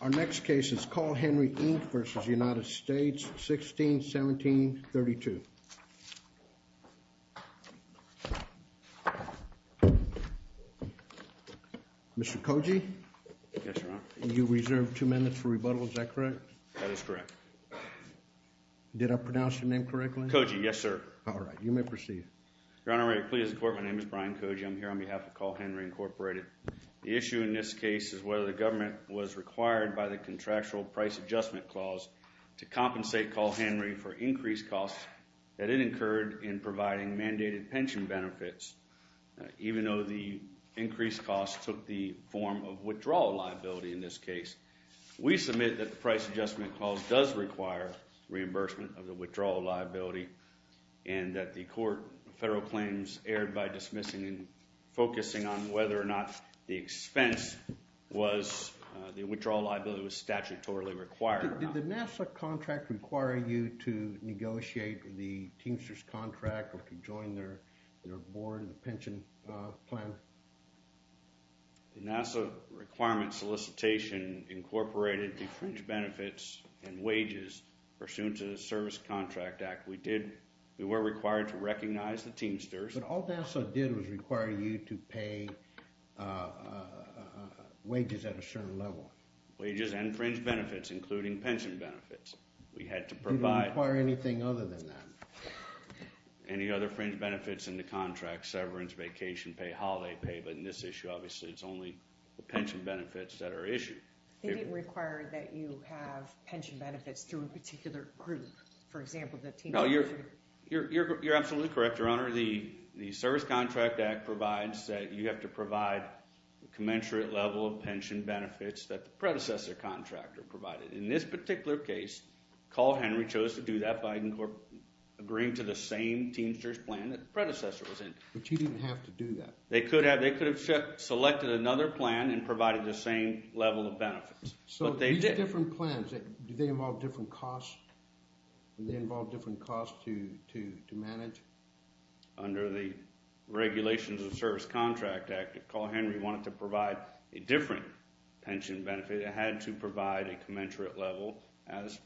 Our next case is Carl Henry, Inc. v. United States, 16-17-32. Mr. Koji, you reserved two minutes for rebuttal, is that correct? That is correct. Did I pronounce your name correctly? Koji, yes sir. All right, you may proceed. Your Honor, may it please the Court, my name is Brian Koji, I'm here on behalf of Carl Henry, Inc. The issue in this case is whether the government was required by the Contractual Price Adjustment Clause to compensate Carl Henry for increased costs that it incurred in providing mandated pension benefits, even though the increased costs took the form of withdrawal liability in this case. We submit that the Price Adjustment Clause does require reimbursement of the withdrawal liability and that the Court of Federal Claims erred by dismissing and focusing on whether or not the expense was the withdrawal liability was statutorily required. Did the NASA contract require you to negotiate the Teamsters contract or to join their board pension plan? The NASA requirement solicitation incorporated the fringe benefits and wages pursuant to the Service Contract Act. We were required to recognize the Teamsters. But all NASA did was require you to pay wages at a certain level. Wages and fringe benefits, including pension benefits. We had to provide... We didn't require anything other than that. Any other fringe benefits in the contract, severance, vacation pay, holiday pay, but in this issue, obviously, it's only the pension benefits that are issued. They didn't require that you have pension benefits through a particular group. For example, the Teamsters group. You're absolutely correct, Your Honor. The Service Contract Act provides that you have to provide a commensurate level of pension benefits that the predecessor contractor provided. In this particular case, Carl Henry chose to do that by agreeing to the same Teamsters plan that the predecessor was in. But you didn't have to do that. They could have selected another plan and provided the same level of benefits. So these different plans, do they involve different costs? Do they involve different costs to manage? Under the regulations of the Service Contract Act, Carl Henry wanted to provide a different pension benefit. It had to provide a commensurate level as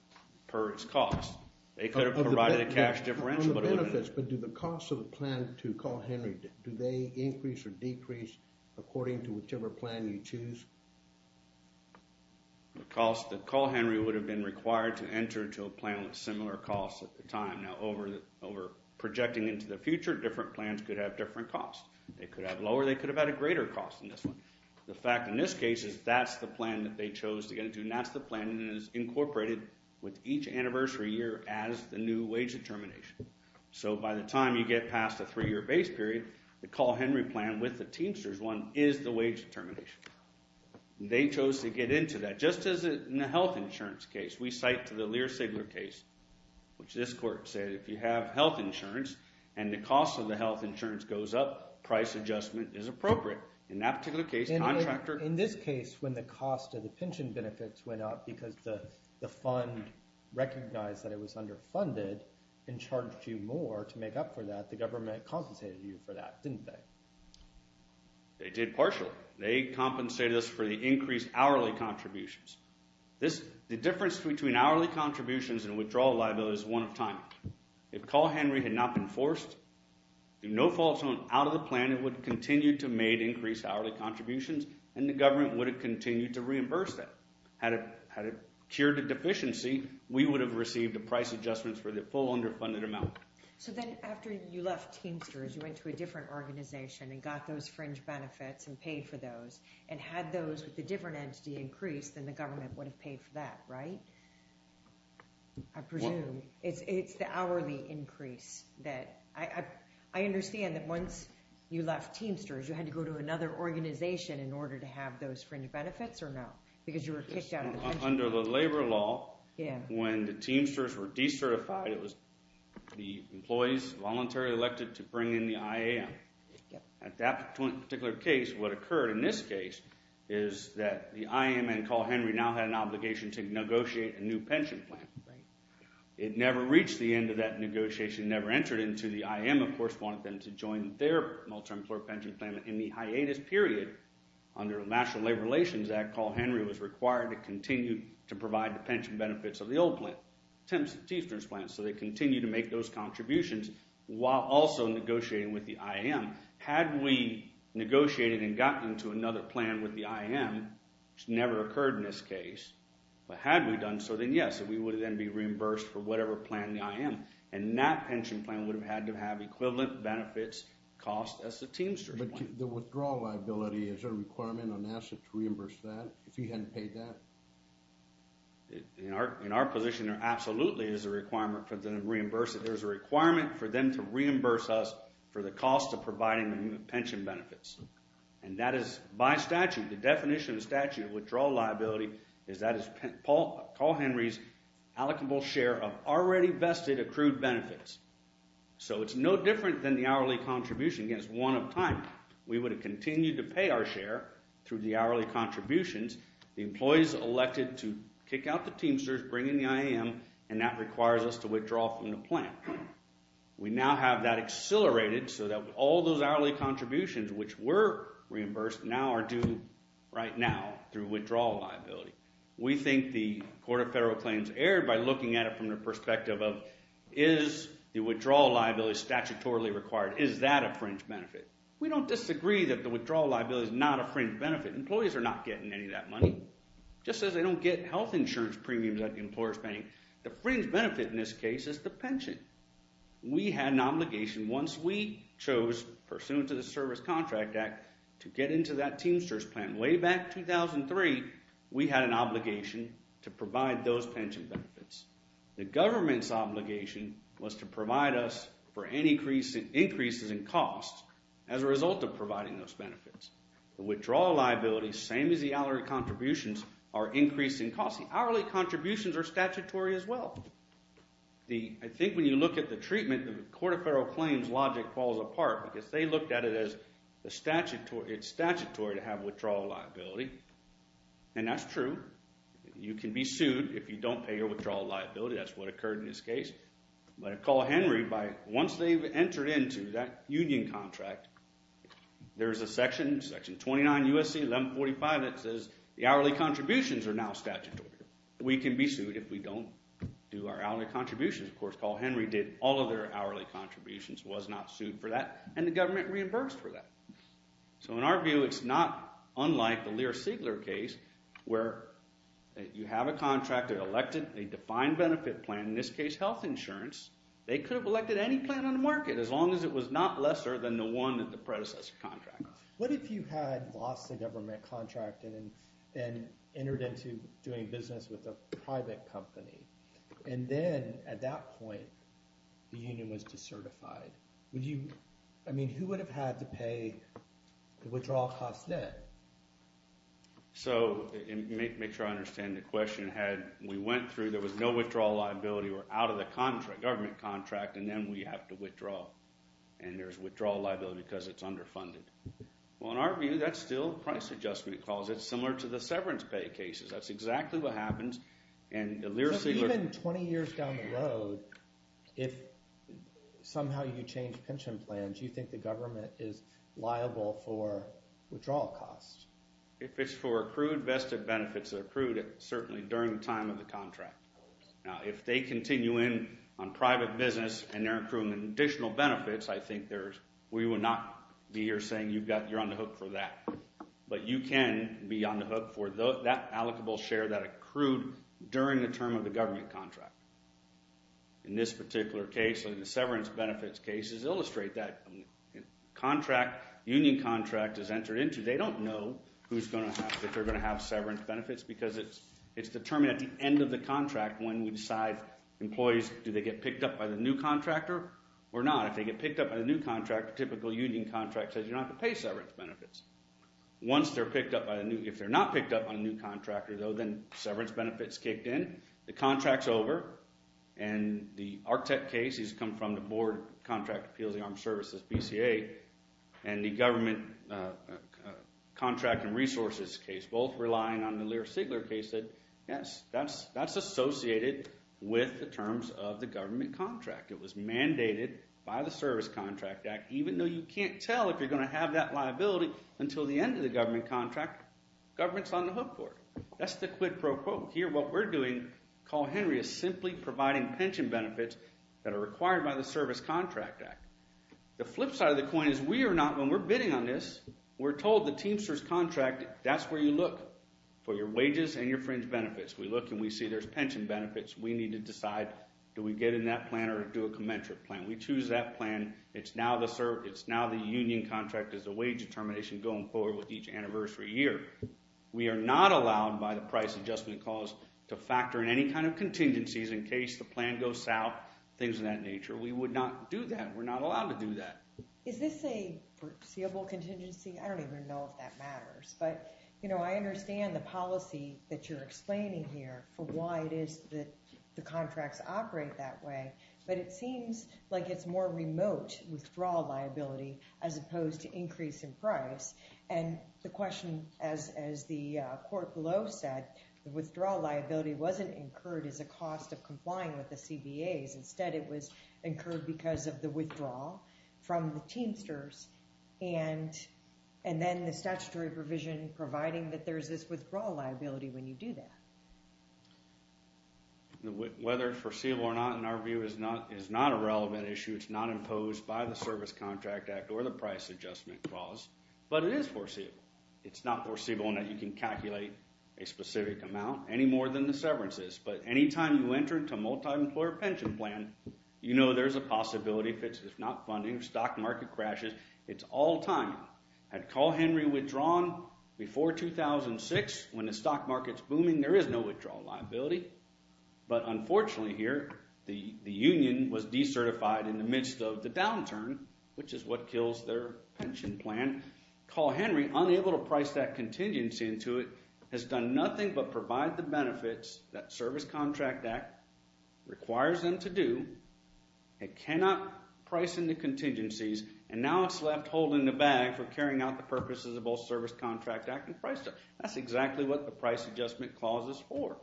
per its cost. They could have provided a cash differential. But do the costs of the plan to Carl Henry, do they increase or decrease according to whichever plan you choose? The cost that Carl Henry would have been required to enter into a plan with similar costs at the time. Now, over projecting into the future, different plans could have different costs. They could have lower, they could have had a greater cost in this one. The fact in this case is that's the plan that they chose to get into, and that's the plan that is incorporated with each anniversary year as the new wage determination. So by the time you get past the three-year base period, the Carl Henry plan with the Teamsters one is the wage determination. They chose to get into that just as in the health insurance case. We cite to the Lear-Sigler case, which this court said if you have health insurance and the cost of the health insurance goes up, price adjustment is appropriate. In this case, when the cost of the pension benefits went up because the fund recognized that it was underfunded and charged you more to make up for that, the government compensated you for that, didn't they? They did partially. They compensated us for the increased hourly contributions. The difference between hourly contributions and withdrawal liability is one of timing. If Carl Henry had not been forced, if no fault was out of the plan, it would continue to make increased hourly contributions, and the government would have continued to reimburse them. Had it cured the deficiency, we would have received the price adjustments for the full underfunded amount. So then after you left Teamsters, you went to a different organization and got those fringe benefits and paid for those, and had those with the different entity increased, then the government would have paid for that, right? I presume. It's the hourly increase. I understand that once you left Teamsters, you had to go to another organization in order to have those fringe benefits or no? Because you were kicked out of the pension. Under the labor law, when the Teamsters were decertified, it was the employees voluntarily elected to bring in the IAM. At that particular case, what occurred in this case is that the IAM and Carl Henry now had an obligation to negotiate a new pension plan. It never reached the end of that negotiation, never entered into. The IAM, of course, wanted them to join their multi-employer pension plan in the hiatus period. Under the National Labor Relations Act, Carl Henry was required to continue to provide the pension benefits of the old plant, so they continued to make those contributions while also negotiating with the IAM. Had we negotiated and gotten into another plan with the IAM, which never occurred in this case, but had we done so, then yes, we would then be reimbursed for whatever plan the IAM. And that pension plan would have had to have equivalent benefits cost as the Teamsters plan. But the withdrawal liability, is there a requirement on NASA to reimburse that if you hadn't paid that? In our position, there absolutely is a requirement for them to reimburse it. There's a requirement for them to reimburse us for the cost of providing the pension benefits. And that is by statute, the definition of statute of withdrawal liability is that is Carl Henry's allocable share of already vested accrued benefits. So it's no different than the hourly contribution against one of time. We would have continued to pay our share through the hourly contributions. The employees elected to kick out the Teamsters, bring in the IAM, and that requires us to withdraw from the plan. We now have that accelerated so that all those hourly contributions, which were reimbursed, now are due right now through withdrawal liability. We think the Court of Federal Claims erred by looking at it from the perspective of is the withdrawal liability statutorily required? Is that a fringe benefit? We don't disagree that the withdrawal liability is not a fringe benefit. Employees are not getting any of that money. It just says they don't get health insurance premiums that the employer is paying. The fringe benefit in this case is the pension. We had an obligation once we chose pursuant to the Service Contract Act to get into that Teamsters plan. Way back in 2003, we had an obligation to provide those pension benefits. The government's obligation was to provide us for any increases in costs as a result of providing those benefits. Withdrawal liability, same as the hourly contributions, are increasing costs. The hourly contributions are statutory as well. I think when you look at the treatment, the Court of Federal Claims logic falls apart because they looked at it as it's statutory to have withdrawal liability. And that's true. You can be sued if you don't pay your withdrawal liability. That's what occurred in this case. But Call Henry, once they've entered into that union contract, there's a section, section 29 U.S.C. 1145, that says the hourly contributions are now statutory. We can be sued if we don't do our hourly contributions. Of course, Call Henry did all of their hourly contributions, was not sued for that, and the government reimbursed for that. So in our view, it's not unlike the Lear-Siegler case where you have a contractor elected a defined benefit plan, in this case health insurance. They could have elected any plan on the market as long as it was not lesser than the one that the predecessor contracted. What if you had lost a government contract and then entered into doing business with a private company? And then at that point, the union was decertified. Would you – I mean, who would have had to pay the withdrawal cost debt? So make sure I understand the question. Had we went through, there was no withdrawal liability, we're out of the contract, government contract, and then we have to withdraw. And there's withdrawal liability because it's underfunded. Well, in our view, that's still price adjustment. It's similar to the severance pay cases. That's exactly what happens. So even 20 years down the road, if somehow you change pension plans, do you think the government is liable for withdrawal costs? If it's for accrued vested benefits, it's accrued certainly during the time of the contract. Now, if they continue in on private business and they're accruing additional benefits, I think there's – we would not be here saying you're on the hook for that. But you can be on the hook for that allocable share that accrued during the term of the government contract. In this particular case, the severance benefits cases illustrate that contract, union contract is entered into. They don't know who's going to have – if they're going to have severance benefits because it's determined at the end of the contract when we decide employees, do they get picked up by the new contractor or not? If they get picked up by the new contractor, typical union contract says you're not going to pay severance benefits. Once they're picked up by a new – if they're not picked up by a new contractor, though, then severance benefits kicked in. The contract's over, and the ARCTEC case has come from the Board of Contract Appeals and Armed Services, BCA, and the government contract and resources case, both relying on the Lear-Sigler case, said yes. That's associated with the terms of the government contract. It was mandated by the Service Contract Act, even though you can't tell if you're going to have that liability until the end of the government contract. Government's on the hook for it. That's the quid pro quo. Here what we're doing, call Henry, is simply providing pension benefits that are required by the Service Contract Act. The flip side of the coin is we are not – when we're bidding on this, we're told the Teamsters contract, that's where you look for your wages and your fringe benefits. We look and we see there's pension benefits. We need to decide do we get in that plan or do a commensurate plan. We choose that plan. It's now the union contract as a wage determination going forward with each anniversary year. We are not allowed by the price adjustment clause to factor in any kind of contingencies in case the plan goes south, things of that nature. We would not do that. We're not allowed to do that. Is this a foreseeable contingency? I don't even know if that matters. But I understand the policy that you're explaining here for why it is that the contracts operate that way. But it seems like it's more remote withdrawal liability as opposed to increase in price. And the question, as the court below said, withdrawal liability wasn't incurred as a cost of complying with the CBAs. Instead, it was incurred because of the withdrawal from the Teamsters. And then the statutory provision providing that there's this withdrawal liability when you do that. Whether it's foreseeable or not, in our view, is not a relevant issue. It's not imposed by the Service Contract Act or the price adjustment clause. But it is foreseeable. It's not foreseeable in that you can calculate a specific amount any more than the severance is. But any time you enter into a multi-employer pension plan, you know there's a possibility, if it's not funding, of stock market crashes. It's all time. Had Call Henry withdrawn before 2006 when the stock market's booming, there is no withdrawal liability. But unfortunately here, the union was decertified in the midst of the downturn, which is what kills their pension plan. Call Henry, unable to price that contingency into it, has done nothing but provide the benefits that Service Contract Act requires them to do. It cannot price into contingencies, and now it's left holding the bag for carrying out the purposes of both Service Contract Act and price adjustment. That's exactly what the price adjustment clause is for.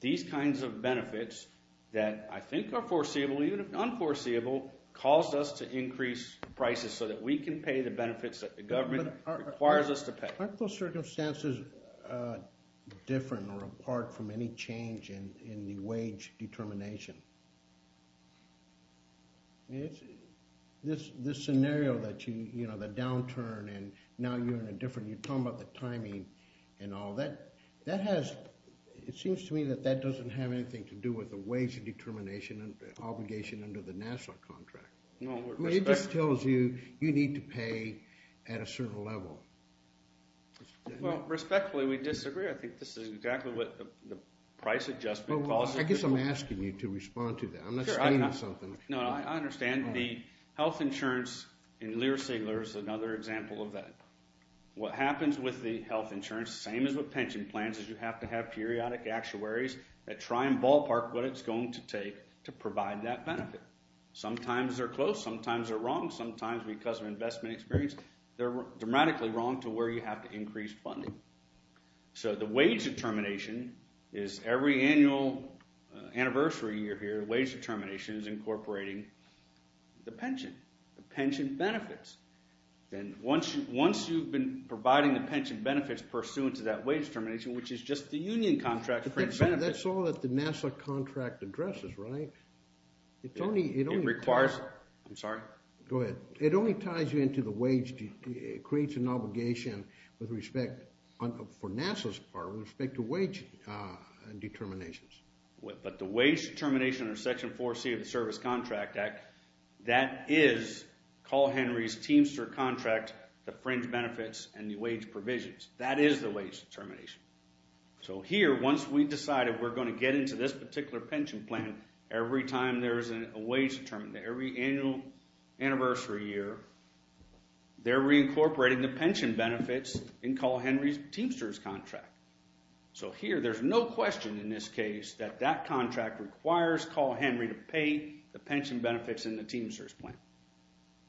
These kinds of benefits that I think are foreseeable, even unforeseeable, caused us to increase prices so that we can pay the benefits that the government requires us to pay. Aren't those circumstances different or apart from any change in the wage determination? This scenario that you, you know, the downturn, and now you're in a different, you're talking about the timing and all. That has, it seems to me that that doesn't have anything to do with the wage determination obligation under the national contract. It just tells you, you need to pay at a certain level. Well, respectfully, we disagree. I think this is exactly what the price adjustment clause is for. I guess I'm asking you to respond to that. I'm not saying something. No, I understand. The health insurance in Lear-Sigler is another example of that. What happens with the health insurance, same as with pension plans, is you have to have periodic actuaries that try and ballpark what it's going to take to provide that benefit. Sometimes they're close. Sometimes they're wrong. Sometimes, because of investment experience, they're dramatically wrong to where you have to increase funding. So the wage determination is every annual anniversary you're here, the wage determination is incorporating the pension, the pension benefits. Then once you've been providing the pension benefits pursuant to that wage determination, which is just the union contract. But that's all that the NASA contract addresses, right? It requires. I'm sorry? Go ahead. It only ties you into the wage. It creates an obligation with respect, for NASA's part, with respect to wage determinations. But the wage determination under Section 4C of the Service Contract Act, that is Carl Henry's Teamster contract, the fringe benefits, and the wage provisions. That is the wage determination. So here, once we've decided we're going to get into this particular pension plan, every time there is a wage determination, every annual anniversary year, they're reincorporating the pension benefits in Carl Henry's Teamster's contract. So here, there's no question in this case that that contract requires Carl Henry to pay the pension benefits in the Teamster's plan.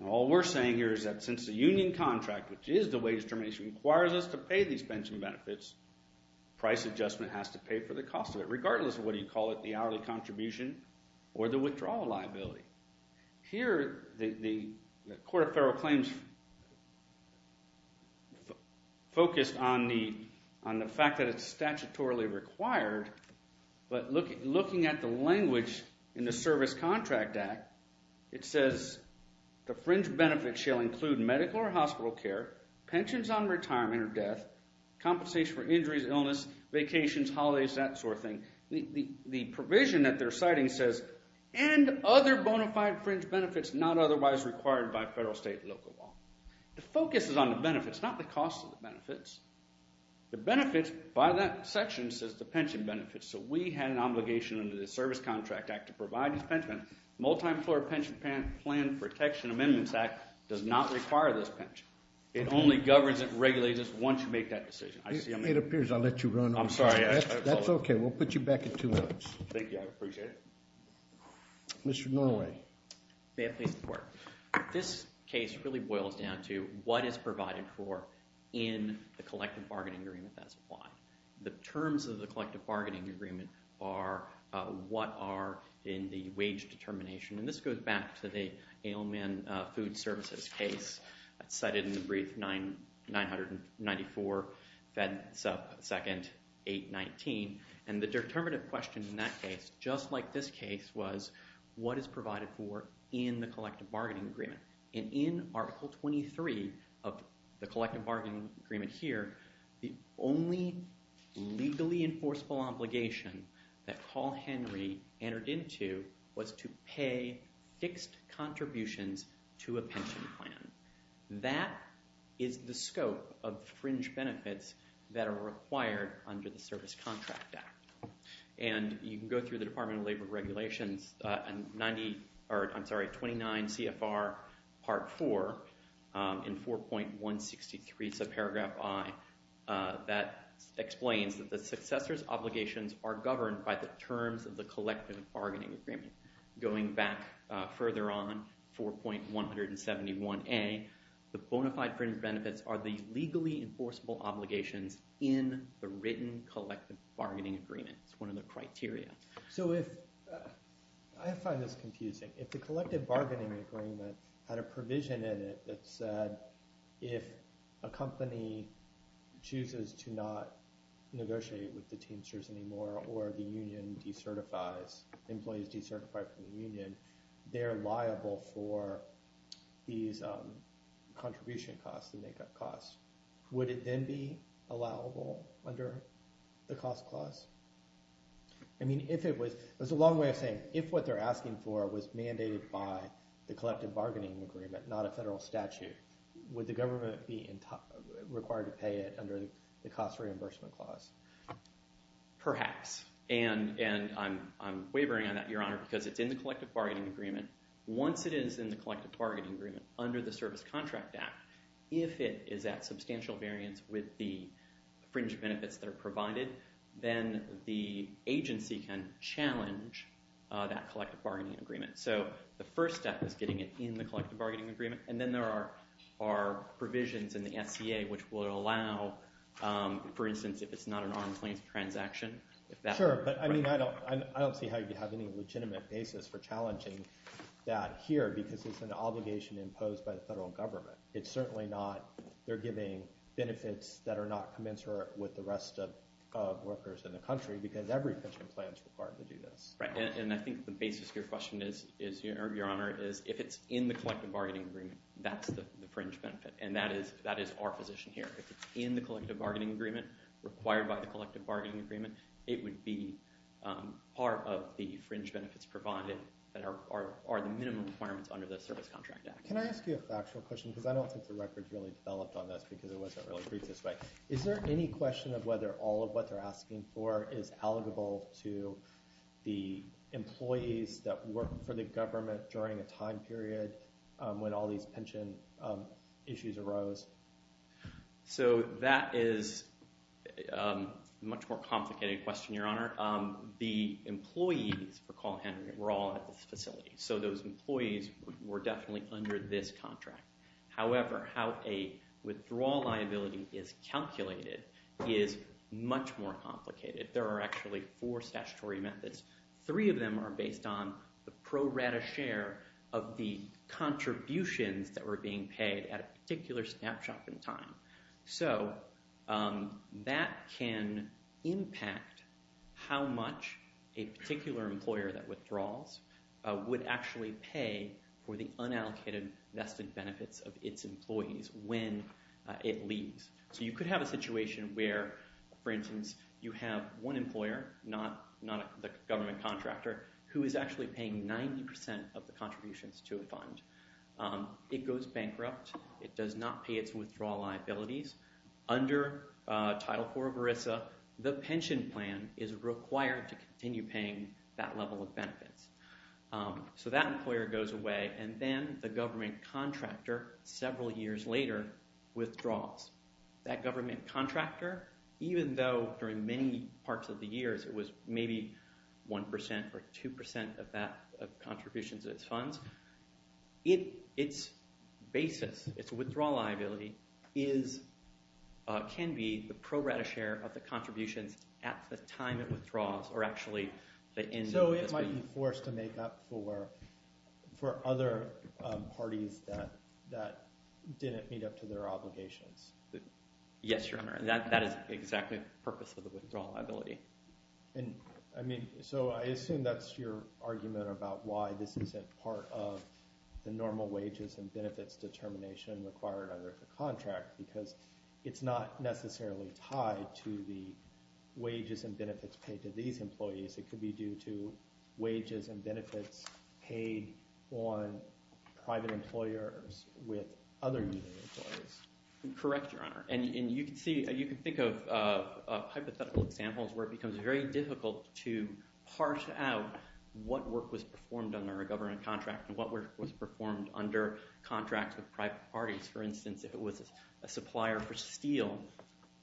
All we're saying here is that since the union contract, which is the wage determination, requires us to pay these pension benefits, price adjustment has to pay for the cost of it, regardless of what you call it, the hourly contribution or the withdrawal liability. Here, the Court of Federal Claims focused on the fact that it's statutorily required, but looking at the language in the Service Contract Act, it says the fringe benefits shall include medical or hospital care, pensions on retirement or death, compensation for injuries, illness, vacations, holidays, that sort of thing. The provision that they're citing says, and other bona fide fringe benefits not otherwise required by federal, state, and local law. The focus is on the benefits, not the cost of the benefits. The benefits, by that section, says the pension benefits. So we had an obligation under the Service Contract Act to provide these pension benefits. The Multi-Floor Pension Plan Protection Amendments Act does not require this pension. It only governs it and regulates it once you make that decision. It appears I let you run. I'm sorry. That's OK. We'll put you back in two minutes. Thank you. I appreciate it. Mr. Norway. May I please report? This case really boils down to what is provided for in the collective bargaining agreement that's applied. The terms of the collective bargaining agreement are what are in the wage determination. And this goes back to the Aleman Food Services case that's cited in the brief 994 Fed Second 819. And the determinative question in that case, just like this case, was what is provided for in the collective bargaining agreement. And in Article 23 of the collective bargaining agreement here, the only legally enforceable obligation that Paul Henry entered into was to pay fixed contributions to a pension plan. That is the scope of fringe benefits that are required under the Service Contract Act. And you can go through the Department of Labor Regulations 29 CFR Part 4 in 4.163 subparagraph I that explains that the successor's obligations are governed by the terms of the collective bargaining agreement. Going back further on, 4.171A, the bona fide fringe benefits are the legally enforceable obligations in the written collective bargaining agreement. It's one of the criteria. So if – I find this confusing. If the collective bargaining agreement had a provision in it that said if a company chooses to not negotiate with the Teamsters anymore or the union decertifies – employees decertify from the union, they're liable for these contribution costs, the make-up costs. Would it then be allowable under the cost clause? I mean if it was – there's a long way of saying if what they're asking for was mandated by the collective bargaining agreement, not a federal statute, would the government be required to pay it under the cost reimbursement clause? Perhaps. And I'm wavering on that, Your Honor, because it's in the collective bargaining agreement. Once it is in the collective bargaining agreement under the Service Contract Act, if it is at substantial variance with the fringe benefits that are provided, then the agency can challenge that collective bargaining agreement. So the first step is getting it in the collective bargaining agreement, and then there are provisions in the SCA which will allow, for instance, if it's not an armed claims transaction. Sure, but I mean I don't see how you could have any legitimate basis for challenging that here because it's an obligation imposed by the federal government. It's certainly not – they're giving benefits that are not commensurate with the rest of workers in the country because every pension plan is required to do this. Right, and I think the basis of your question is, Your Honor, is if it's in the collective bargaining agreement, that's the fringe benefit, and that is our position here. If it's in the collective bargaining agreement, required by the collective bargaining agreement, it would be part of the fringe benefits provided that are the minimum requirements under the Service Contract Act. Can I ask you a factual question because I don't think the record really developed on this because it wasn't really briefed this way. Is there any question of whether all of what they're asking for is eligible to the employees that work for the government during a time period when all these pension issues arose? So that is a much more complicated question, Your Honor. The employees for Call Henry were all at this facility, so those employees were definitely under this contract. However, how a withdrawal liability is calculated is much more complicated. There are actually four statutory methods. Three of them are based on the pro rata share of the contributions that were being paid at a particular snapshot in time. So that can impact how much a particular employer that withdraws would actually pay for the unallocated vested benefits of its employees when it leaves. So you could have a situation where, for instance, you have one employer, not the government contractor, who is actually paying 90% of the contributions to a fund. It goes bankrupt. It does not pay its withdrawal liabilities. Under Title IV of ERISA, the pension plan is required to continue paying that level of benefits. So that employer goes away, and then the government contractor, several years later, withdraws. That government contractor, even though during many parts of the years it was maybe 1% or 2% of contributions to its funds, its basis, its withdrawal liability, can be the pro rata share of the contributions at the time it withdraws or actually the end of this period. So it might be forced to make up for other parties that didn't meet up to their obligations. Yes, Your Honor. That is exactly the purpose of the withdrawal liability. So I assume that's your argument about why this isn't part of the normal wages and benefits determination required under the contract, because it's not necessarily tied to the wages and benefits paid to these employees. It could be due to wages and benefits paid on private employers with other union employees. Correct, Your Honor. And you can think of hypothetical examples where it becomes very difficult to parse out what work was performed under a government contract and what work was performed under contracts with private parties. For instance, if it was a supplier for steel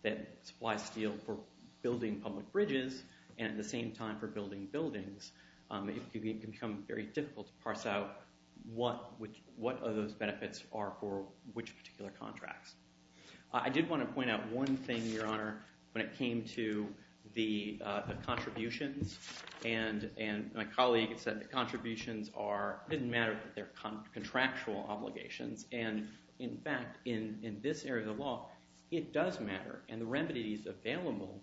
that supplies steel for building public bridges and at the same time for building buildings, it can become very difficult to parse out what those benefits are for which particular contracts. I did want to point out one thing, Your Honor, when it came to the contributions. And my colleague had said that contributions didn't matter if they're contractual obligations. And in fact, in this area of the law, it does matter. And the remedies available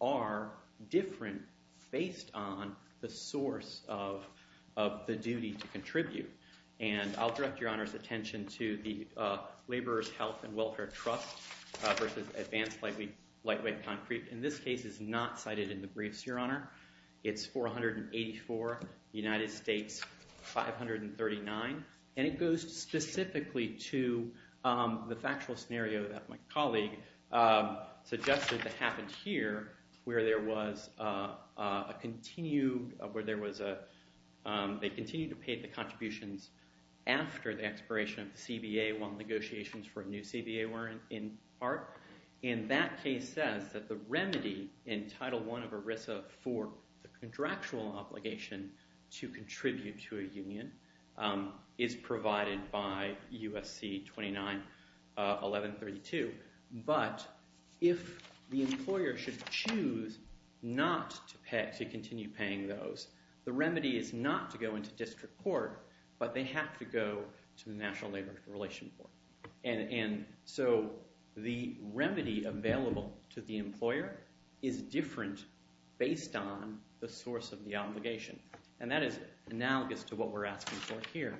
are different based on the source of the duty to contribute. And I'll direct Your Honor's attention to the Laborers' Health and Welfare Trust versus Advanced Lightweight Concrete. In this case, it's not cited in the briefs, Your Honor. It's 484, United States 539. And it goes specifically to the factual scenario that my colleague suggested that happened here where there was a continued – where there was a – they continued to pay the contributions after the expiration of the CBA when negotiations for a new CBA weren't in part. And that case says that the remedy in Title I of ERISA for the contractual obligation to contribute to a union is provided by U.S.C. 291132. But if the employer should choose not to pay – to continue paying those, the remedy is not to go into district court, but they have to go to the National Labor Relations Board. And so the remedy available to the employer is different based on the source of the obligation. And that is analogous to what we're asking for here.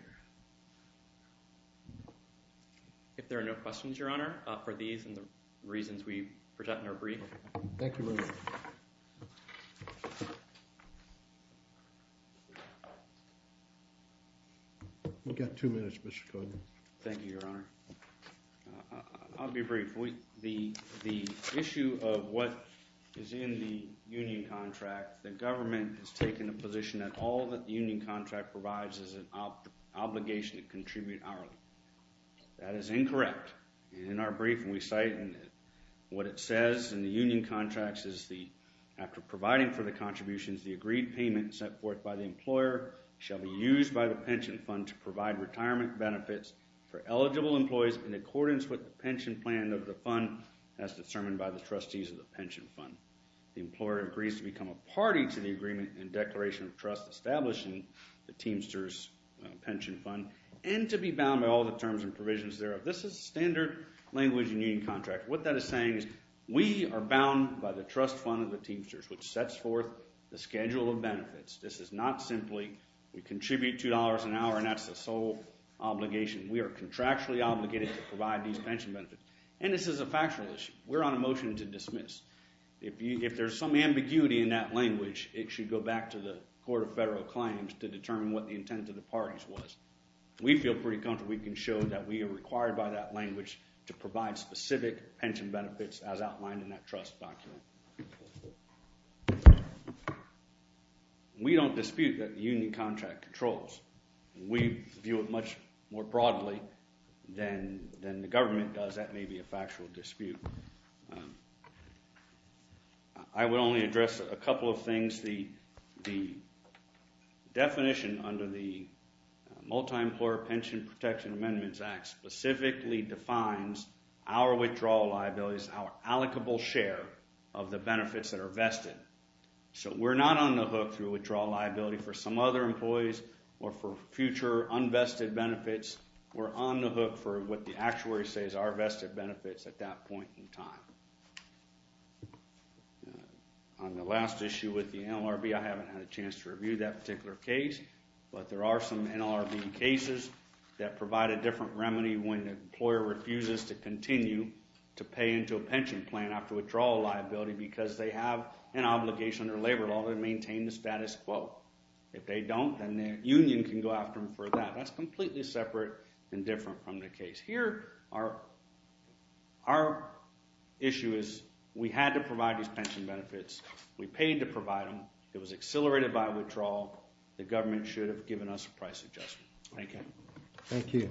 If there are no questions, Your Honor, for these and the reasons we present in our brief. Thank you very much. We've got two minutes, Mr. Kogan. Thank you, Your Honor. I'll be brief. The issue of what is in the union contract, the government has taken a position that all that the union contract provides is an obligation to contribute hourly. That is incorrect. In our brief, we cite what it says in the union contracts is the – after providing for the contributions, the agreed payment set forth by the employer shall be used by the pension fund to provide retirement benefits for eligible employees in accordance with the pension plan of the fund as determined by the trustees of the pension fund. The employer agrees to become a party to the agreement and declaration of trust established in the Teamsters pension fund and to be bound by all the terms and provisions thereof. This is standard language in union contracts. What that is saying is we are bound by the trust fund of the Teamsters, which sets forth the schedule of benefits. This is not simply we contribute $2 an hour and that's the sole obligation. We are contractually obligated to provide these pension benefits, and this is a factual issue. We're on a motion to dismiss. If there's some ambiguity in that language, it should go back to the court of federal claims to determine what the intent of the parties was. We feel pretty comfortable we can show that we are required by that language to provide specific pension benefits as outlined in that trust document. We don't dispute that the union contract controls. We view it much more broadly than the government does. That may be a factual dispute. I would only address a couple of things. The definition under the Multi-Employer Pension Protection Amendments Act specifically defines our withdrawal liabilities, our allocable share of the benefits that are vested. So we're not on the hook for withdrawal liability for some other employees or for future unvested benefits. We're on the hook for what the actuary says are vested benefits at that point in time. On the last issue with the NLRB, I haven't had a chance to review that particular case, but there are some NLRB cases that provide a different remedy when an employer refuses to continue to pay into a pension plan after withdrawal liability because they have an obligation under labor law to maintain the status quo. If they don't, then the union can go after them for that. That's completely separate and different from the case here. Our issue is we had to provide these pension benefits. We paid to provide them. It was accelerated by withdrawal. The government should have given us a price adjustment. Thank you. Thank you.